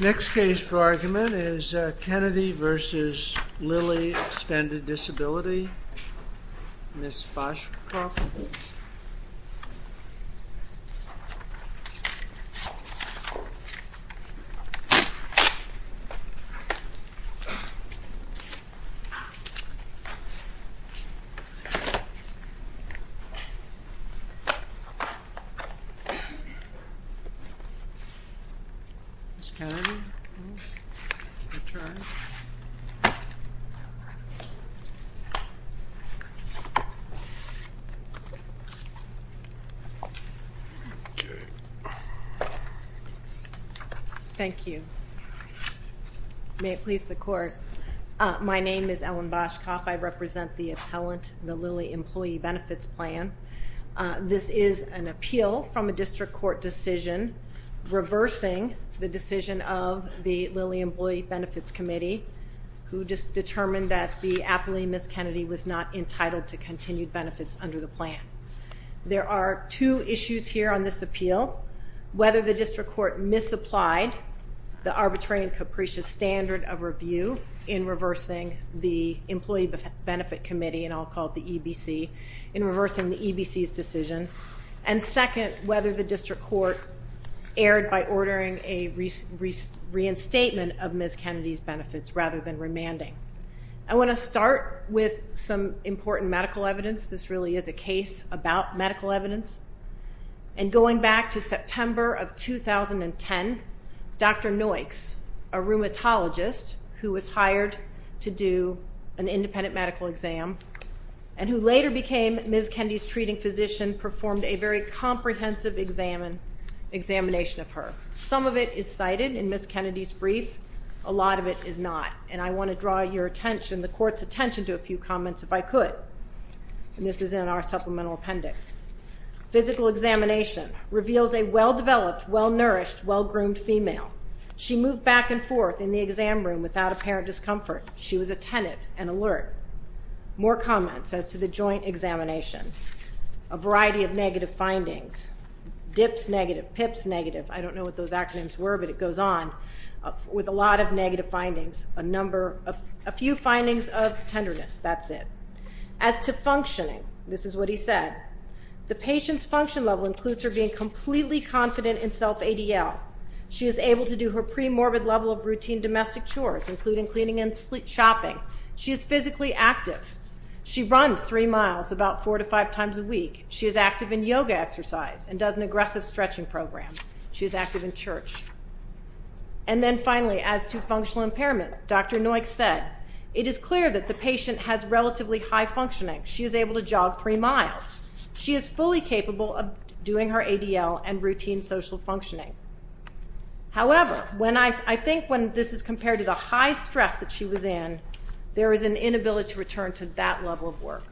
Next case for argument is Kennedy v. Lilly Extended Disability, Ms. Foshcroft. Ms. Kennedy. Thank you. May it please the court. My name is Ellen Boschkoff. I represent the appellant in the Lilly Employee Benefits Plan. This is an appeal from a district court decision reversing the decision of the Lilly Employee Benefits Committee, who just determined that the appellee, Ms. Kennedy, was not entitled to continued benefits under the plan. There are two issues here on this appeal. Whether the district court misapplied the arbitrary and capricious standard of review in reversing the Employee Benefit Committee, and I'll call it the EBC, in reversing the EBC's decision. And second, whether the district court erred by ordering a reinstatement of Ms. Kennedy's benefits rather than remanding. I want to start with some important medical evidence. This really is a case about medical evidence. And going back to September of 2010, Dr. Noyks, a rheumatologist who was hired to do an independent medical exam, and who later became Ms. Kennedy's treating physician, performed a very comprehensive examination of her. Some of it is cited in Ms. Kennedy's brief. A lot of it is not. And I want to draw your attention, the court's attention, to a few comments if I could. And this is in our supplemental appendix. Physical examination reveals a well-developed, well-nourished, well-groomed female. She moved back and forth in the exam room without apparent discomfort. She was attentive and alert. More comments as to the joint examination. A variety of negative findings. DIPS negative, PIPS negative, I don't know what those acronyms were, but it goes on. With a lot of negative findings. A few findings of tenderness, that's it. As to functioning, this is what he said. The patient's function level includes her being completely confident in self-ADL. She is able to do her pre-morbid level of routine domestic chores, including cleaning and shopping. She is physically active. She runs three miles about four to five times a week. She is active in yoga exercise and does an aggressive stretching program. She is active in church. And then finally, as to functional impairment, Dr. Neuqs said, it is clear that the patient has relatively high functioning. She is able to jog three miles. She is fully capable of doing her ADL and routine social functioning. However, I think when this is compared to the high stress that she was in, there is an inability to return to that level of work.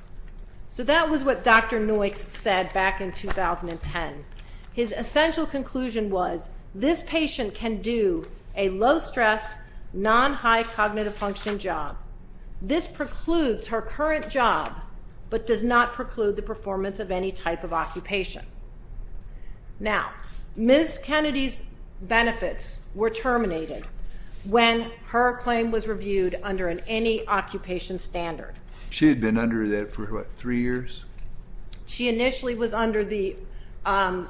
So that was what Dr. Neuqs said back in 2010. His essential conclusion was this patient can do a low stress, non-high cognitive functioning job. This precludes her current job, but does not preclude the performance of any type of occupation. Now, Ms. Kennedy's benefits were terminated when her claim was reviewed under an any occupation standard. She had been under that for, what, three years? She initially was under the own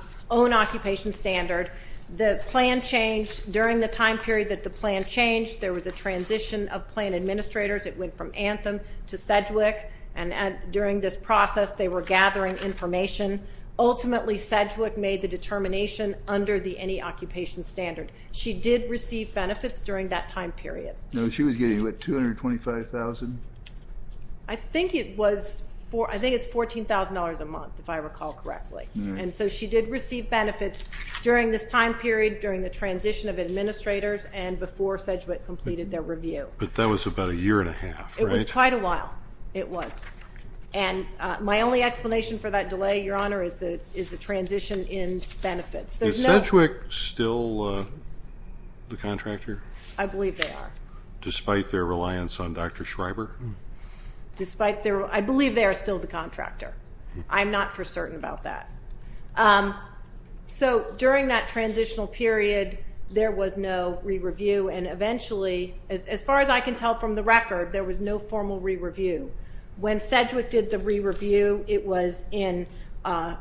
occupation standard. The plan changed during the time period that the plan changed. There was a transition of plan administrators. It went from Anthem to Sedgwick. And during this process, they were gathering information. Ultimately, Sedgwick made the determination under the any occupation standard. She did receive benefits during that time period. No, she was getting, what, $225,000? I think it was $14,000 a month, if I recall correctly. And so she did receive benefits during this time period, during the transition of administrators, and before Sedgwick completed their review. But that was about a year and a half, right? It was quite a while. It was. And my only explanation for that delay, Your Honor, is the transition in benefits. Is Sedgwick still the contractor? I believe they are. Despite their reliance on Dr. Schreiber? I believe they are still the contractor. I'm not for certain about that. So during that transitional period, there was no re-review. And eventually, as far as I can tell from the record, there was no formal re-review. When Sedgwick did the re-review, it was in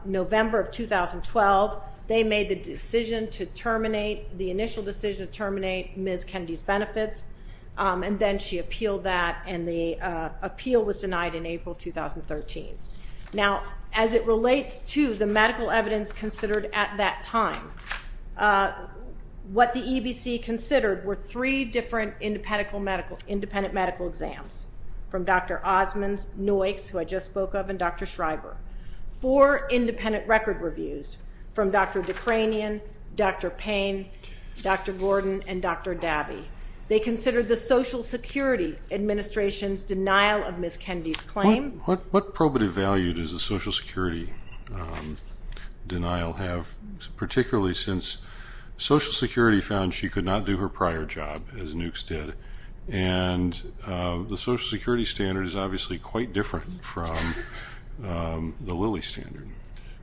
November of 2012. They made the decision to terminate, the initial decision to terminate Ms. Kennedy's benefits, and then she appealed that, and the appeal was denied in April 2013. Now, as it relates to the medical evidence considered at that time, what the EBC considered were three different independent medical exams, from Dr. Osmond, Noyks, who I just spoke of, and Dr. Schreiber. Four independent record reviews from Dr. Dekranian, Dr. Payne, Dr. Gordon, and Dr. Dabby. They considered the Social Security Administration's denial of Ms. Kennedy's claim. What probative value does the Social Security denial have, particularly since Social Security found she could not do her prior job, as Noyks did, and the Social Security standard is obviously quite different from the Lilly standard.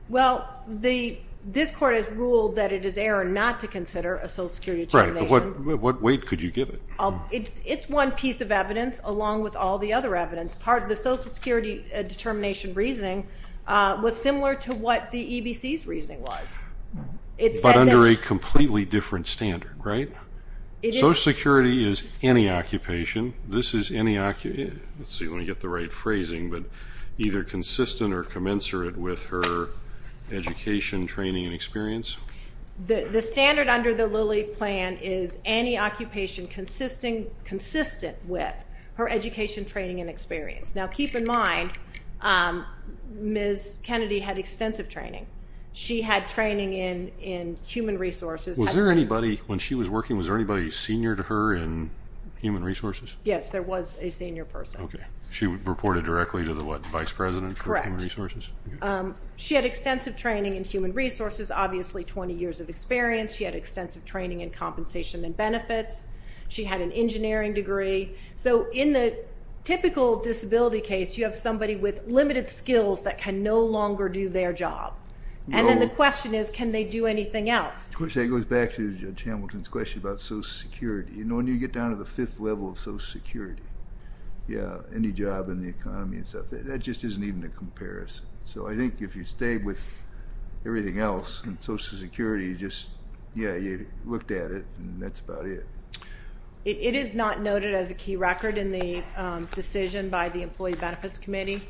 Well, this Court has ruled that it is error not to consider a Social Security determination. Right, but what weight could you give it? It's one piece of evidence along with all the other evidence. Part of the Social Security determination reasoning was similar to what the EBC's reasoning was. But under a completely different standard, right? Social Security is any occupation. This is any occupation. Let's see if I can get the right phrasing, but either consistent or commensurate with her education, training, and experience. The standard under the Lilly plan is any occupation consistent with her education, training, and experience. Now, keep in mind, Ms. Kennedy had extensive training. She had training in human resources. When she was working, was there anybody senior to her in human resources? Yes, there was a senior person. Okay. She reported directly to the, what, vice president for human resources? Correct. She had extensive training in human resources, obviously 20 years of experience. She had extensive training in compensation and benefits. She had an engineering degree. So in the typical disability case, you have somebody with limited skills that can no longer do their job. And then the question is, can they do anything else? Of course, that goes back to Judge Hamilton's question about Social Security. You know, when you get down to the fifth level of Social Security, yeah, any job in the economy and stuff, that just isn't even a comparison. So I think if you stayed with everything else in Social Security, just, yeah, you looked at it, and that's about it. It is not noted as a key record in the decision by the Employee Benefits Committee.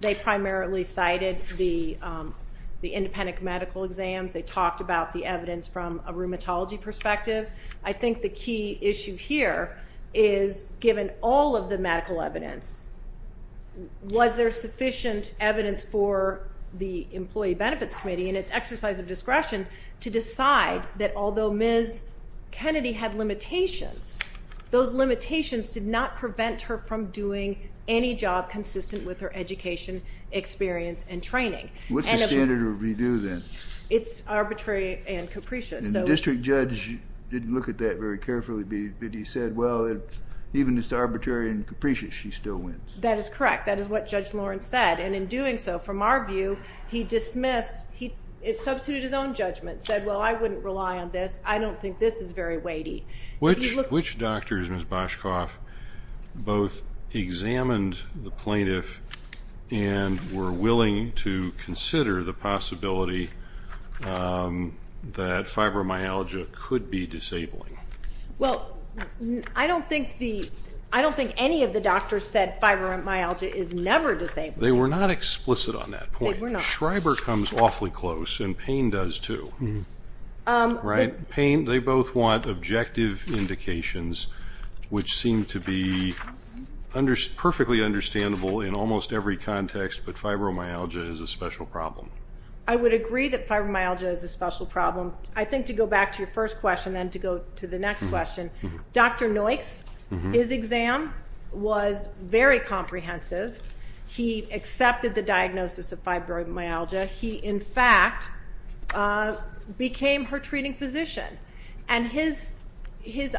They primarily cited the independent medical exams. They talked about the evidence from a rheumatology perspective. I think the key issue here is, given all of the medical evidence, was there sufficient evidence for the Employee Benefits Committee and its exercise of discretion to decide that although Ms. Kennedy had limitations, those limitations did not prevent her from doing any job consistent with her education, experience, and training. What's the standard of redo then? It's arbitrary and capricious. And the district judge didn't look at that very carefully, but he said, well, even if it's arbitrary and capricious, she still wins. That is correct. That is what Judge Lawrence said. And in doing so, from our view, he dismissed, he substituted his own judgment, said, well, I wouldn't rely on this. I don't think this is very weighty. Which doctors, Ms. Boshkoff, both examined the plaintiff and were willing to consider the possibility that fibromyalgia could be disabling? Well, I don't think any of the doctors said fibromyalgia is never disabling. They were not explicit on that point. Schreiber comes awfully close, and Payne does, too. Right. Payne, they both want objective indications, which seem to be perfectly understandable in almost every context, but fibromyalgia is a special problem. I would agree that fibromyalgia is a special problem. I think to go back to your first question, then to go to the next question, Dr. Noyks, his exam was very comprehensive. He accepted the diagnosis of fibromyalgia. He, in fact, became her treating physician. And his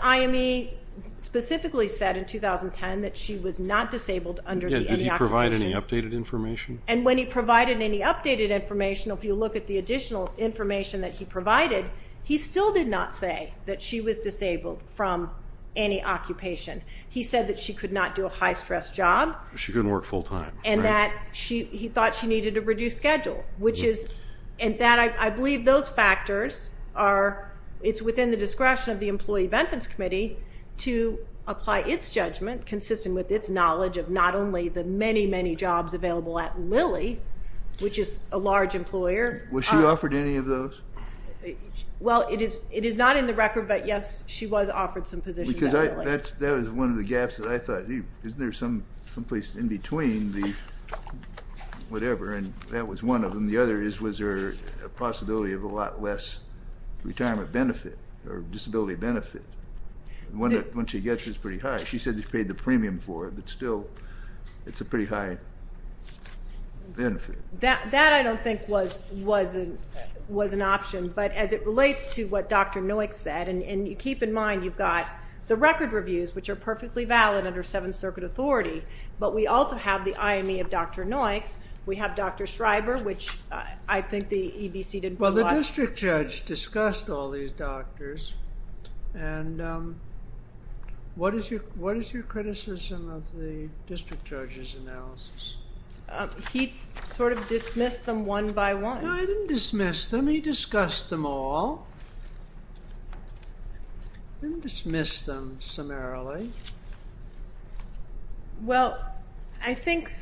IME specifically said in 2010 that she was not disabled under the occupation. Did he provide any updated information? And when he provided any updated information, if you look at the additional information that he provided, he still did not say that she was disabled from any occupation. He said that she could not do a high-stress job. She couldn't work full-time. And that he thought she needed a reduced schedule, which is, and that I believe those factors are, it's within the discretion of the employee benefits committee to apply its judgment, consistent with its knowledge of not only the many, many jobs available at Lilly, which is a large employer. Was she offered any of those? Well, it is not in the record, but, yes, she was offered some positions at Lilly. That was one of the gaps that I thought, isn't there someplace in between the whatever, and that was one of them. The other is was there a possibility of a lot less retirement benefit or disability benefit. Once she gets it, it's pretty high. She said she paid the premium for it, but still it's a pretty high benefit. That I don't think was an option. But as it relates to what Dr. Noik said, and keep in mind you've got the record reviews, which are perfectly valid under Seventh Circuit authority, but we also have the IME of Dr. Noik's. We have Dr. Schreiber, which I think the EBC did pretty well. Well, the district judge discussed all these doctors, and what is your criticism of the district judge's analysis? He sort of dismissed them one by one. No, he didn't dismiss them. Well, he discussed them all. He didn't dismiss them summarily. Well, I think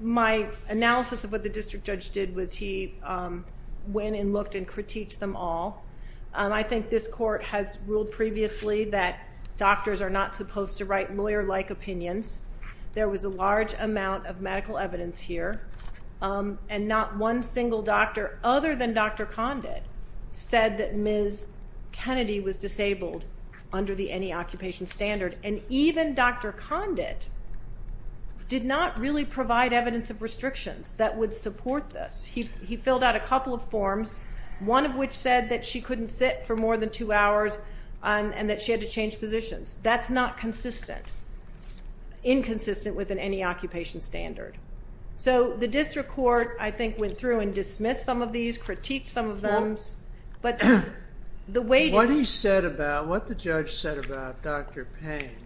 my analysis of what the district judge did was he went and looked and critiqued them all. I think this court has ruled previously that doctors are not supposed to write lawyer-like opinions. There was a large amount of medical evidence here, and not one single doctor other than Dr. Condit said that Ms. Kennedy was disabled under the NE Occupation Standard, and even Dr. Condit did not really provide evidence of restrictions that would support this. He filled out a couple of forms, one of which said that she couldn't sit for more than two hours and that she had to change positions. That's not consistent, inconsistent with an NE Occupation Standard. So the district court, I think, went through and dismissed some of these, critiqued some of them. What he said about, what the judge said about Dr. Payne,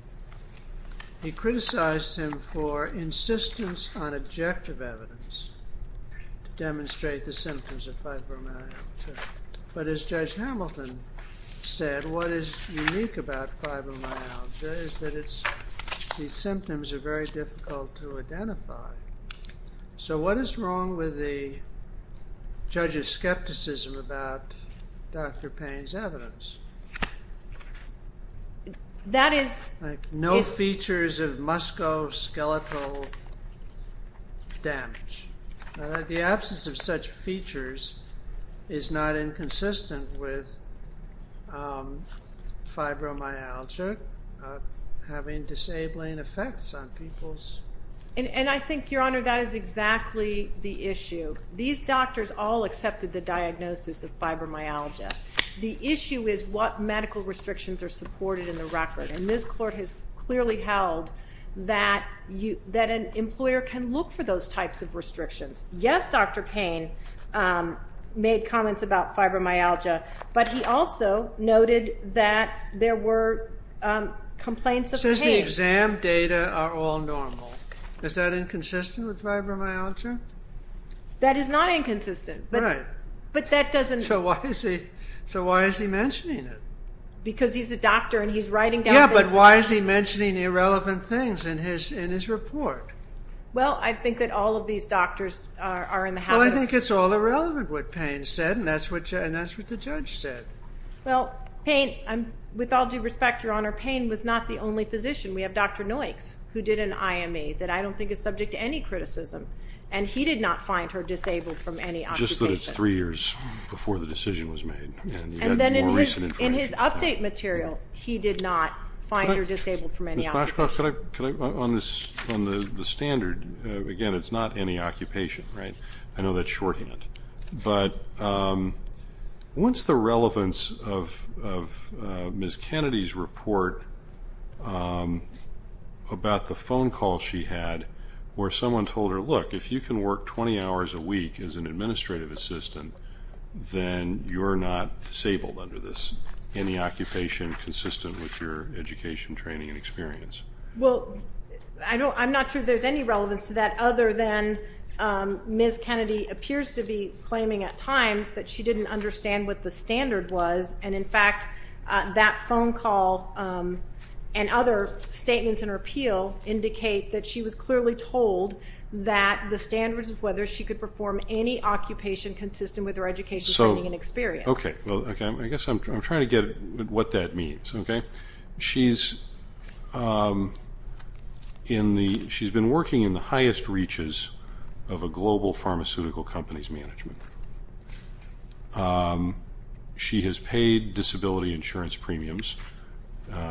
he criticized him for insistence on objective evidence to demonstrate the symptoms of fibromyalgia. But as Judge Hamilton said, what is unique about fibromyalgia is that these symptoms are very difficult to identify. So what is wrong with the judge's skepticism about Dr. Payne's evidence? That is... No features of musculoskeletal damage. The absence of such features is not inconsistent with fibromyalgia having disabling effects on people's... And I think, Your Honor, that is exactly the issue. These doctors all accepted the diagnosis of fibromyalgia. The issue is what medical restrictions are supported in the record, and this court has clearly held that an employer can look for those types of restrictions. Yes, Dr. Payne made comments about fibromyalgia, but he also noted that there were complaints of pain. Since the exam data are all normal, is that inconsistent with fibromyalgia? That is not inconsistent. Right. But that doesn't... So why is he mentioning it? Because he's a doctor and he's writing down... Yeah, but why is he mentioning irrelevant things in his report? Well, I think that all of these doctors are in the habit of... Well, I think it's all irrelevant, what Payne said, and that's what the judge said. Well, Payne, with all due respect, Your Honor, Payne was not the only physician. We have Dr. Noykes, who did an IME that I don't think is subject to any criticism, and he did not find her disabled from any occupation. Just that it's three years before the decision was made, and you had more recent information. In his update material, he did not find her disabled from any occupation. Ms. Boschkoff, could I, on the standard, again, it's not any occupation, right? I know that's shorthand. But what's the relevance of Ms. Kennedy's report about the phone call she had where someone told her, look, if you can work 20 hours a week as an administrative assistant, then you're not disabled under this. Any occupation consistent with your education, training, and experience. Well, I'm not sure there's any relevance to that other than Ms. Kennedy appears to be claiming at times that she didn't understand what the standard was, and, in fact, that phone call and other statements in her appeal indicate that she was clearly told that the standards of whether she could perform any occupation consistent with her education, training, and experience. Okay. Well, I guess I'm trying to get what that means. She's been working in the highest reaches of a global pharmaceutical company's management. She has paid disability insurance premiums,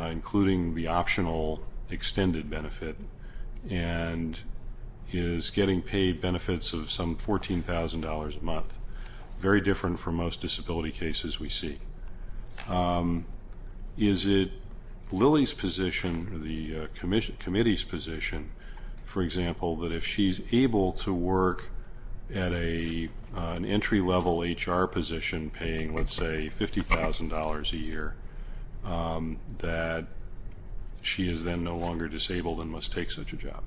including the optional extended benefit, and is getting paid benefits of some $14,000 a month. Very different from most disability cases we see. Is it Lilly's position, the committee's position, for example, that if she's able to work at an entry-level HR position, paying, let's say, $50,000 a year, that she is then no longer disabled and must take such a job?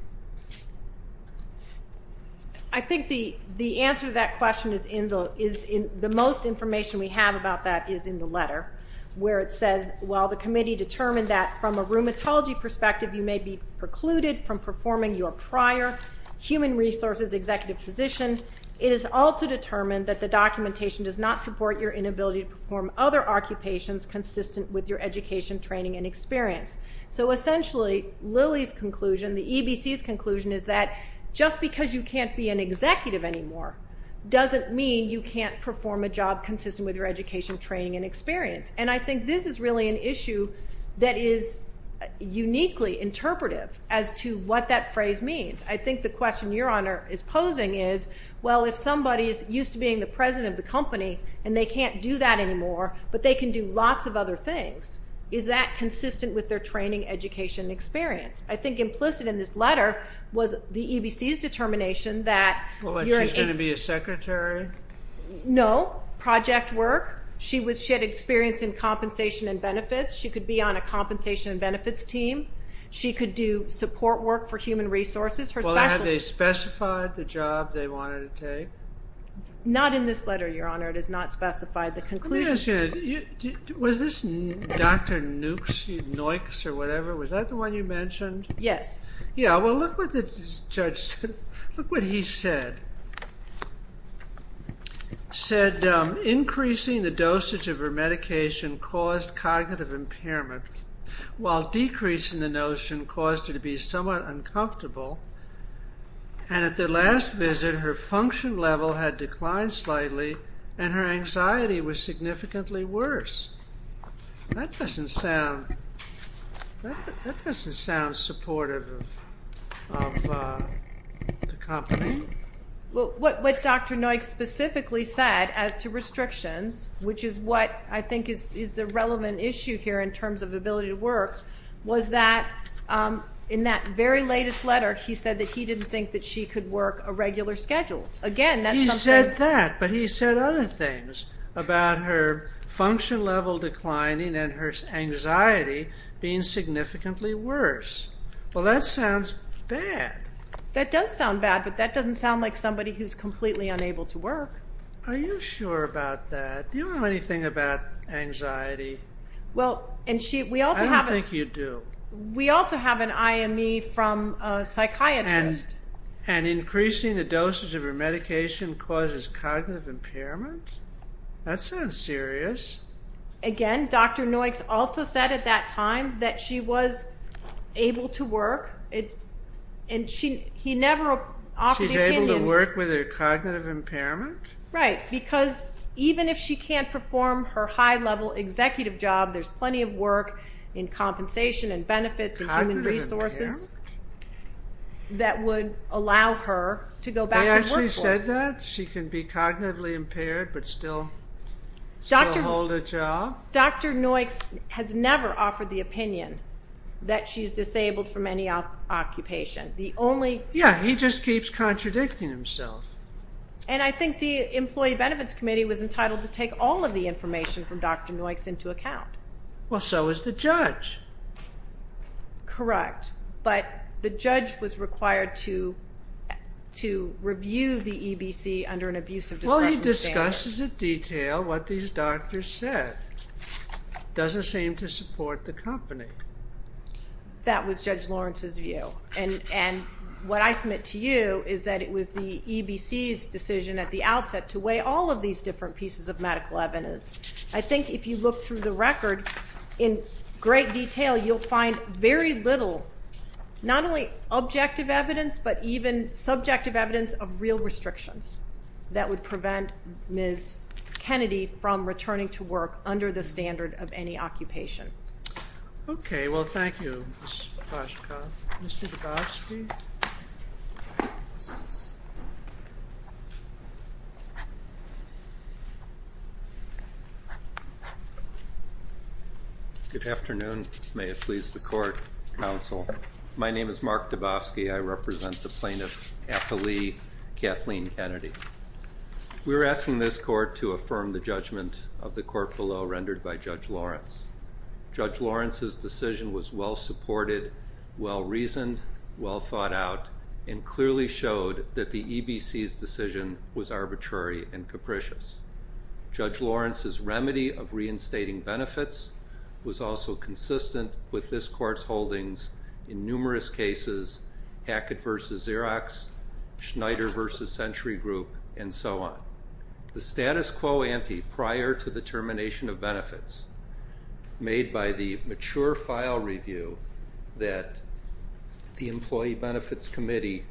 I think the answer to that question is in the most information we have about that is in the letter, where it says while the committee determined that, from a rheumatology perspective, you may be precluded from performing your prior human resources executive position, it is also determined that the documentation does not support your inability to perform other occupations consistent with your education, training, and experience. So essentially, Lilly's conclusion, the EBC's conclusion, is that just because you can't be an executive anymore doesn't mean you can't perform a job consistent with your education, training, and experience. And I think this is really an issue that is uniquely interpretive as to what that phrase means. I think the question Your Honor is posing is, well, if somebody is used to being the president of the company and they can't do that anymore, but they can do lots of other things, is that consistent with their training, education, and experience? I think implicit in this letter was the EBC's determination that you're an agency. What, she's going to be a secretary? No. Project work. She had experience in compensation and benefits. She could be on a compensation and benefits team. She could do support work for human resources. Well, have they specified the job they wanted to take? Not in this letter, Your Honor. It has not specified the conclusion. Let me ask you, was this Dr. Noix or whatever, was that the one you mentioned? Yes. Yeah, well, look what the judge said. Look what he said. Said increasing the dosage of her medication caused cognitive impairment while decreasing the notion caused her to be somewhat uncomfortable and at the last visit her function level had declined slightly and her anxiety was significantly worse. That doesn't sound supportive of the company. Well, what Dr. Noix specifically said as to restrictions, which is what I think is the relevant issue here in terms of ability to work, was that in that very latest letter he said that he didn't think that she could work a regular schedule. He said that, but he said other things about her function level declining and her anxiety being significantly worse. Well, that sounds bad. That does sound bad, but that doesn't sound like somebody who's completely unable to work. Are you sure about that? Do you know anything about anxiety? I don't think you do. We also have an IME from a psychiatrist. Increasing the dosage of her medication causes cognitive impairment? That sounds serious. Again, Dr. Noix also said at that time that she was able to work. She's able to work with her cognitive impairment? Right, because even if she can't perform her high-level executive job, there's plenty of work in compensation and benefits and human resources that would allow her to go back to the workforce. They actually said that? She can be cognitively impaired but still hold a job? Dr. Noix has never offered the opinion that she's disabled from any occupation. Yeah, he just keeps contradicting himself. And I think the Employee Benefits Committee was entitled to take all of the information from Dr. Noix into account. Well, so is the judge. Correct, but the judge was required to review the EBC under an abusive discretionary standard. Well, he discusses in detail what these doctors said. Doesn't seem to support the company. That was Judge Lawrence's view. And what I submit to you is that it was the EBC's decision at the outset to weigh all of these different pieces of medical evidence. I think if you look through the record in great detail, you'll find very little, not only objective evidence, but even subjective evidence of real restrictions that would prevent Ms. Kennedy from returning to work under the standard of any occupation. Okay, well, thank you, Ms. Poshkoff. Mr. Dabofsky. Good afternoon. May it please the court, counsel. My name is Mark Dabofsky. I represent the plaintiff, Apollee Kathleen Kennedy. We're asking this court to affirm the judgment of the court below rendered by Judge Lawrence. Judge Lawrence's decision was well-supported, well-reasoned, well-thought-out, and clearly showed that the EBC's decision was arbitrary and capricious. Judge Lawrence's remedy of reinstating benefits was also consistent with this court's holdings in numerous cases, Hackett v. Xerox, Schneider v. Century Group, and so on. The status quo ante prior to the termination of benefits made by the mature file review that the Employee Benefits Committee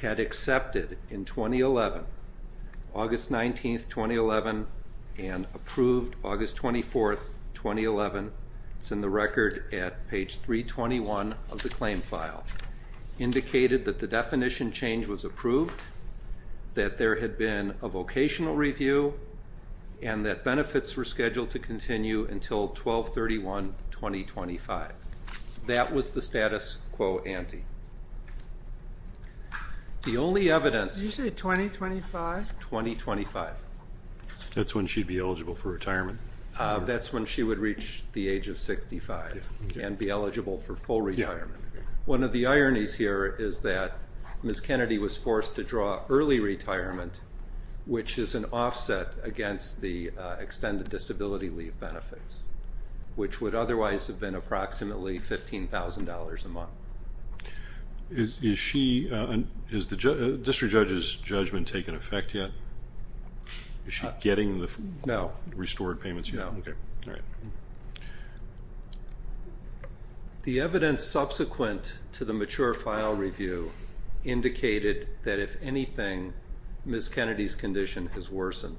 had accepted in 2011, August 19th, 2011, and approved August 24th, 2011, it's in the record at page 321 of the claim file, indicated that the definition change was approved, that there had been a vocational review, and that benefits were scheduled to continue until 12-31-2025. That was the status quo ante. The only evidence... Did you say 2025? 2025. That's when she'd be eligible for retirement? That's when she would reach the age of 65 and be eligible for full retirement. One of the ironies here is that Ms. Kennedy was forced to draw early retirement, which is an offset against the extended disability leave benefits, which would otherwise have been approximately $15,000 a month. Has the district judge's judgment taken effect yet? Is she getting the restored payments yet? No. Okay, all right. The evidence subsequent to the mature file review indicated that if anything, Ms. Kennedy's condition has worsened.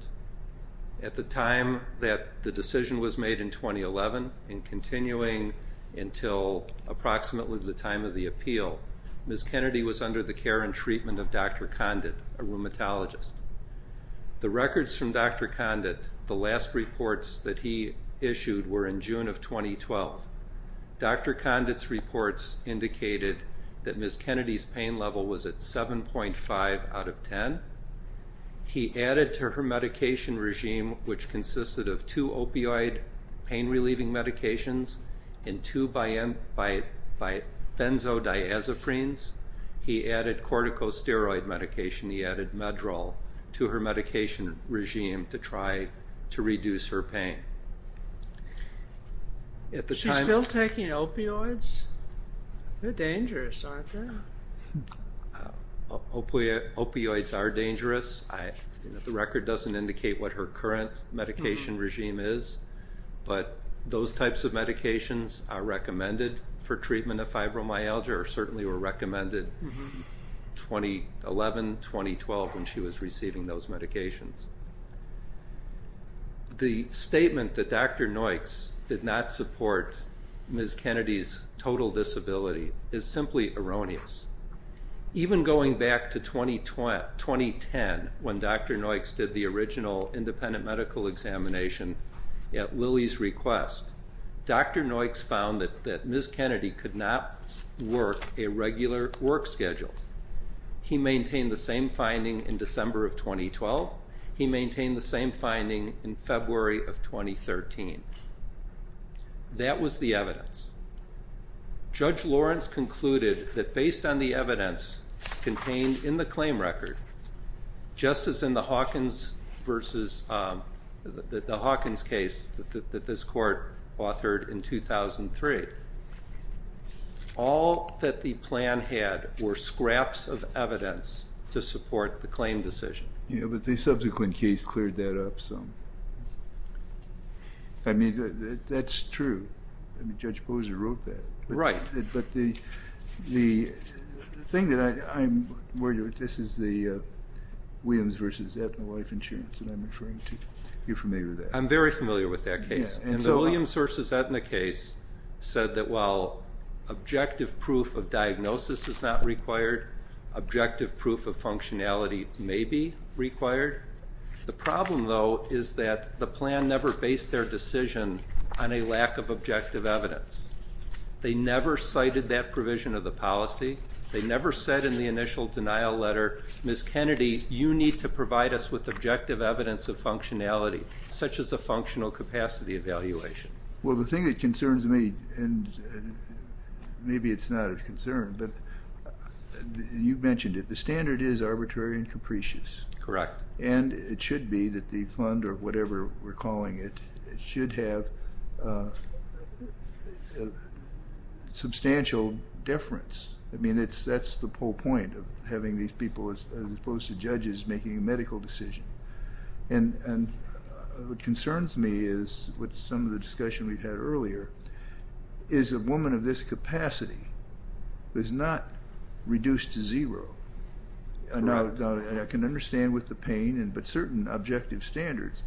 At the time that the decision was made in 2011, and continuing until approximately the time of the appeal, Ms. Kennedy was under the care and treatment of Dr. Condit, a rheumatologist. The records from Dr. Condit, the last reports that he issued were in June of 2012. Dr. Condit's reports indicated that Ms. Kennedy's pain level was at 7.5 out of 10. He added to her medication regime, which consisted of two opioid pain-relieving medications and two benzodiazepines. He added corticosteroid medication. He added Meddrol to her medication regime to try to reduce her pain. Is she still taking opioids? They're dangerous, aren't they? Opioids are dangerous. The record doesn't indicate what her current medication regime is, but those types of medications are recommended for treatment of fibromyalgia or certainly were recommended 2011, 2012, when she was receiving those medications. The statement that Dr. Noyks did not support Ms. Kennedy's total disability is simply erroneous. Even going back to 2010, when Dr. Noyks did the original independent medical examination at Lilly's request, Dr. Noyks found that Ms. Kennedy could not work a regular work schedule. He maintained the same finding in December of 2012. He maintained the same finding in February of 2013. That was the evidence. Judge Lawrence concluded that based on the evidence contained in the claim record, just as in the Hawkins case that this court authored in 2003, all that the plan had were scraps of evidence to support the claim decision. Yeah, but the subsequent case cleared that up some. I mean, that's true. I mean, Judge Boser wrote that. Right. But the thing that I'm worried about, this is the Williams v. Eppner Life Insurance that I'm referring to. Are you familiar with that? I'm very familiar with that case. And the Williams v. Eppner case said that while objective proof of diagnosis is not required, objective proof of functionality may be required. The problem, though, is that the plan never based their decision on a lack of objective evidence. They never cited that provision of the policy. They never said in the initial denial letter, Ms. Kennedy, you need to provide us with objective evidence of functionality, such as a functional capacity evaluation. Well, the thing that concerns me, and maybe it's not a concern, but you mentioned it, the standard is arbitrary and capricious. Correct. And it should be that the fund or whatever we're calling it should have substantial deference. I mean, that's the whole point of having these people, as opposed to judges, making a medical decision. And what concerns me is, with some of the discussion we've had earlier, is a woman of this capacity is not reduced to zero. And I can understand with the pain, but certain objective standards,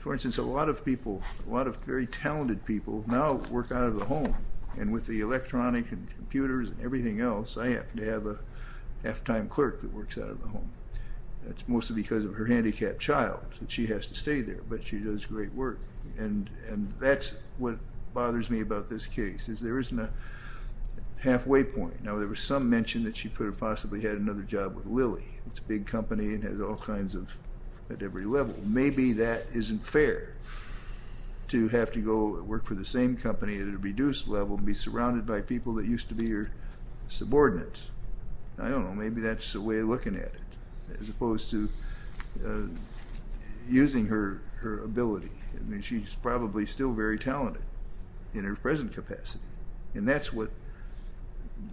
for instance, a lot of people, a lot of very talented people, now work out of the home. And with the electronic and computers and everything else, I happen to have a half-time clerk that works out of the home. That's mostly because of her handicapped child, and she has to stay there, but she does great work. And that's what bothers me about this case, is there isn't a halfway point. Now, there was some mention that she could have possibly had another job with Lilly. It's a big company and has all kinds of, at every level. Maybe that isn't fair, to have to go work for the same company at a reduced level, and be surrounded by people that used to be her subordinates. I don't know, maybe that's the way of looking at it, as opposed to using her ability. I mean, she's probably still very talented in her present capacity. And that's what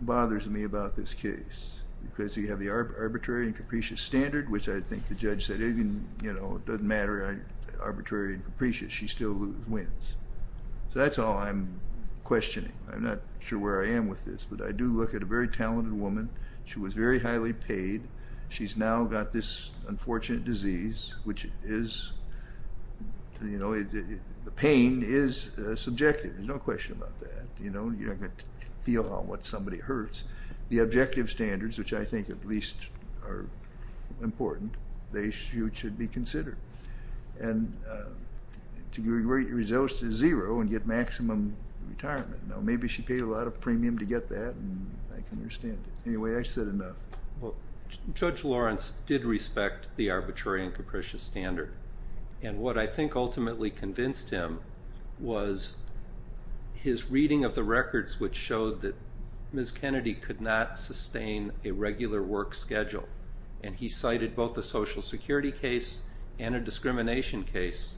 bothers me about this case, because you have the arbitrary and capricious standard, which I think the judge said, it doesn't matter, arbitrary and capricious, she still wins. So that's all I'm questioning. I'm not sure where I am with this. But I do look at a very talented woman. She was very highly paid. She's now got this unfortunate disease, which is, you know, the pain is subjective. There's no question about that. You're not going to feel what somebody hurts. The objective standards, which I think at least are important, they should be considered. And to get results to zero and get maximum retirement. Now, maybe she paid a lot of premium to get that, and I can understand it. Anyway, I said enough. Judge Lawrence did respect the arbitrary and capricious standard. And what I think ultimately convinced him was his reading of the records, which showed that Ms. Kennedy could not sustain a regular work schedule. And he cited both a Social Security case and a discrimination case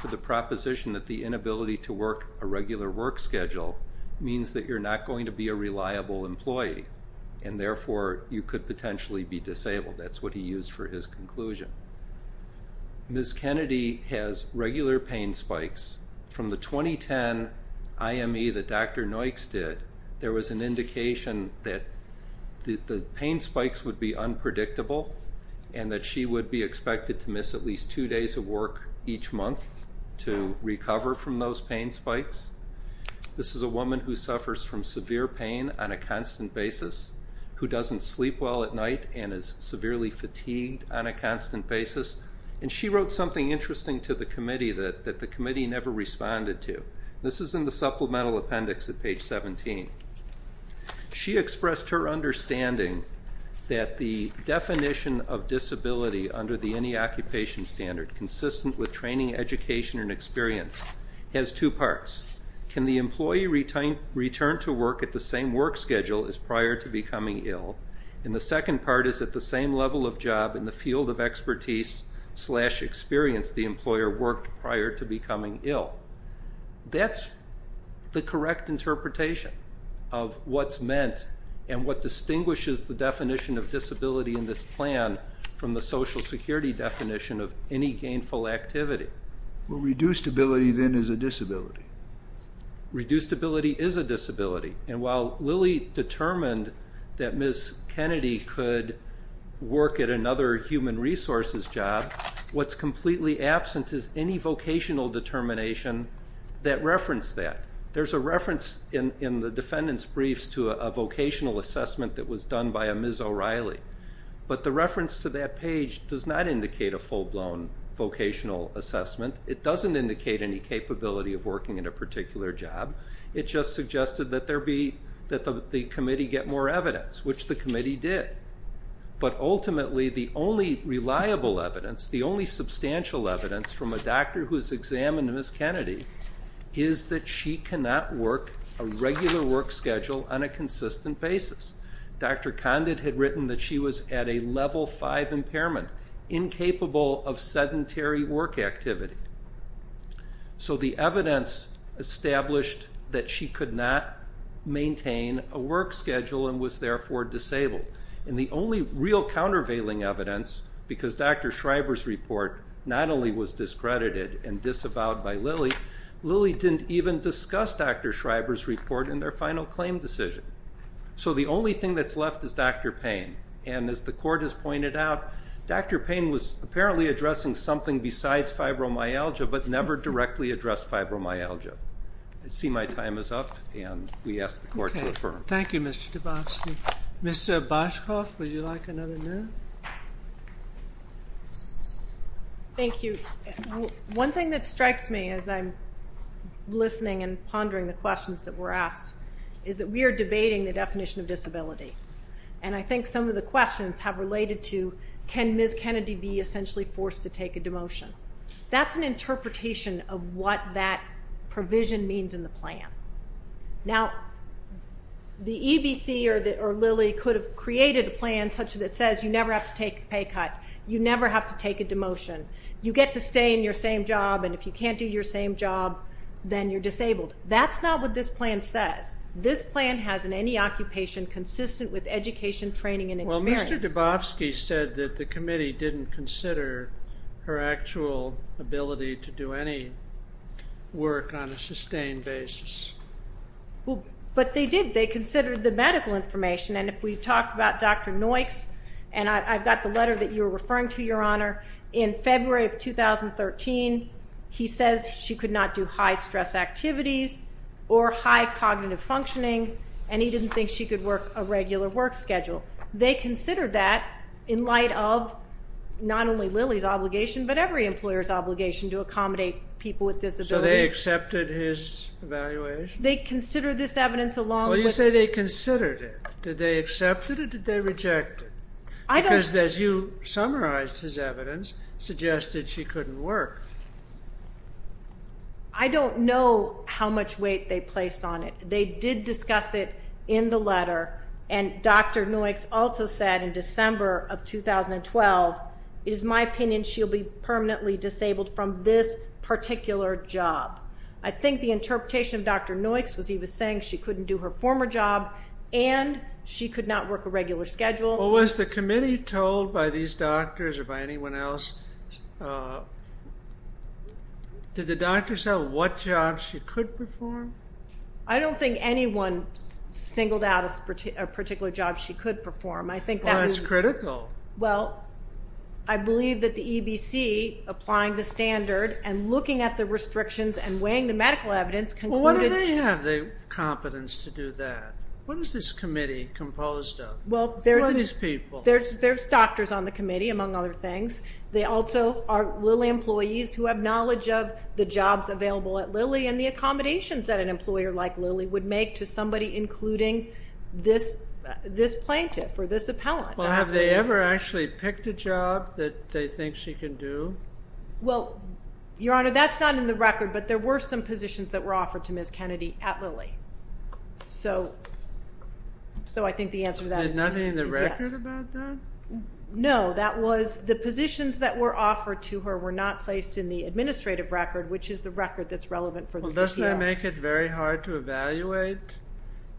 for the proposition that the inability to work a regular work schedule means that you're not going to be a reliable employee, and therefore you could potentially be disabled. That's what he used for his conclusion. Ms. Kennedy has regular pain spikes. From the 2010 IME that Dr. Noyks did, there was an indication that the pain spikes would be unpredictable and that she would be expected to miss at least two days of work each month to recover from those pain spikes. This is a woman who suffers from severe pain on a constant basis, who doesn't sleep well at night, and is severely fatigued on a constant basis. And she wrote something interesting to the committee that the committee never responded to. This is in the supplemental appendix at page 17. She expressed her understanding that the definition of disability under the any occupation standard, consistent with training, education, and experience, has two parts. Can the employee return to work at the same work schedule as prior to becoming ill? And the second part is at the same level of job in the field of expertise slash experience the employer worked prior to becoming ill. That's the correct interpretation of what's meant and what distinguishes the definition of disability in this plan from the Social Security definition of any gainful activity. Well, reduced ability then is a disability. Reduced ability is a disability. And while Lilly determined that Ms. Kennedy could work at another human resources job, what's completely absent is any vocational determination that referenced that. There's a reference in the defendant's briefs to a vocational assessment that was done by a Ms. O'Reilly. But the reference to that page does not indicate a full-blown vocational assessment. It doesn't indicate any capability of working at a particular job. It just suggested that the committee get more evidence, which the committee did. But ultimately, the only reliable evidence, the only substantial evidence from a doctor who's examined Ms. Kennedy, is that she cannot work a regular work schedule on a consistent basis. Dr. Condit had written that she was at a level 5 impairment, incapable of sedentary work activity. So the evidence established that she could not maintain a work schedule and was therefore disabled. And the only real countervailing evidence, because Dr. Schreiber's report not only was discredited and disavowed by Lilly, Lilly didn't even discuss Dr. Schreiber's report in their final claim decision. So the only thing that's left is Dr. Payne. And as the Court has pointed out, Dr. Payne was apparently addressing something besides fibromyalgia but never directly addressed fibromyalgia. I see my time is up, and we ask the Court to affirm. Thank you, Mr. DeBosky. Ms. Boschkoff, would you like another minute? Thank you. One thing that strikes me as I'm listening and pondering the questions that were asked is that we are debating the definition of disability. And I think some of the questions have related to can Ms. Kennedy be essentially forced to take a demotion. That's an interpretation of what that provision means in the plan. Now, the EBC or Lilly could have created a plan such that it says you never have to take a pay cut, you never have to take a demotion, you get to stay in your same job, and if you can't do your same job, then you're disabled. That's not what this plan says. This plan has in any occupation consistent with education, training, and experience. Well, Mr. DeBosky said that the committee didn't consider her actual ability to do any work on a sustained basis. But they did. They considered the medical information. And if we talk about Dr. Noykes, and I've got the letter that you were referring to, Your Honor, in February of 2013, he says she could not do high-stress activities or high cognitive functioning, and he didn't think she could work a regular work schedule. They considered that in light of not only Lilly's obligation, but every employer's obligation to accommodate people with disabilities. So they accepted his evaluation? They considered this evidence along with... Well, you say they considered it. Did they accept it or did they reject it? Because as you summarized his evidence, suggested she couldn't work. I don't know how much weight they placed on it. They did discuss it in the letter, and Dr. Noykes also said in December of 2012, it is my opinion she'll be permanently disabled from this particular job. I think the interpretation of Dr. Noykes was he was saying she couldn't do her former job and she could not work a regular schedule. Well, was the committee told by these doctors or by anyone else, did the doctors tell what jobs she could perform? I don't think anyone singled out a particular job she could perform. Well, that's critical. Well, I believe that the EBC applying the standard and looking at the restrictions and weighing the medical evidence concluded... Well, why do they have the competence to do that? What is this committee composed of? Who are these people? There's doctors on the committee, among other things. They also are Lilly employees who have knowledge of the jobs available at Lilly and the accommodations that an employer like Lilly would make to somebody including this plaintiff or this appellant. Well, have they ever actually picked a job that they think she can do? Well, Your Honor, that's not in the record, but there were some positions that were offered to Ms. Kennedy at Lilly. So I think the answer to that is yes. There's nothing in the record about that? No. The positions that were offered to her were not placed in the administrative record, which is the record that's relevant for this appeal. Well, doesn't that make it very hard to evaluate?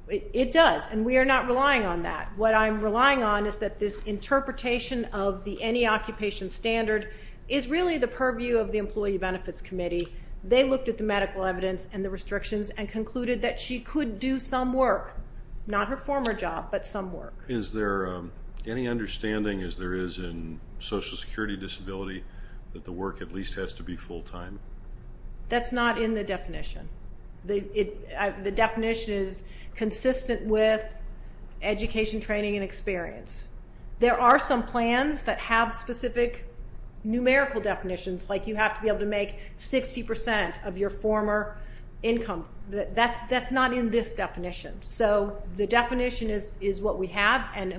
It does, and we are not relying on that. What I'm relying on is that this interpretation of the any-occupation standard is really the purview of the Employee Benefits Committee. They looked at the medical evidence and the restrictions and concluded that she could do some work, not her former job, but some work. Is there any understanding, as there is in Social Security Disability, that the work at least has to be full-time? That's not in the definition. The definition is consistent with education, training, and experience. There are some plans that have specific numerical definitions, like you have to be able to make 60% of your former income. That's not in this definition. So the definition is what we have, and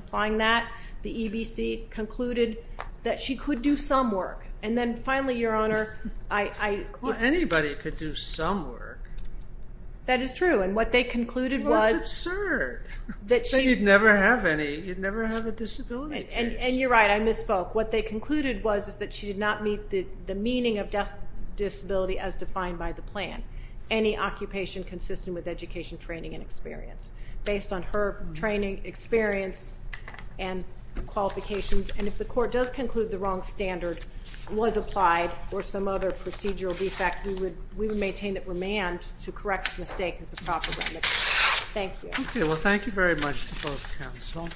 applying that, the EBC concluded that she could do some work. And then finally, Your Honor, I... Well, anybody could do some work. That is true, and what they concluded was... Well, that's absurd. You'd never have a disability case. And you're right, I misspoke. What they concluded was that she did not meet the meaning of disability as defined by the plan. Any occupation consistent with education, training, and experience. Based on her training, experience, and qualifications. And if the court does conclude the wrong standard was applied or some other procedural defect, we would maintain that remand to correct the mistake is the proper remedy. Thank you. Okay, well, thank you very much to both counsel.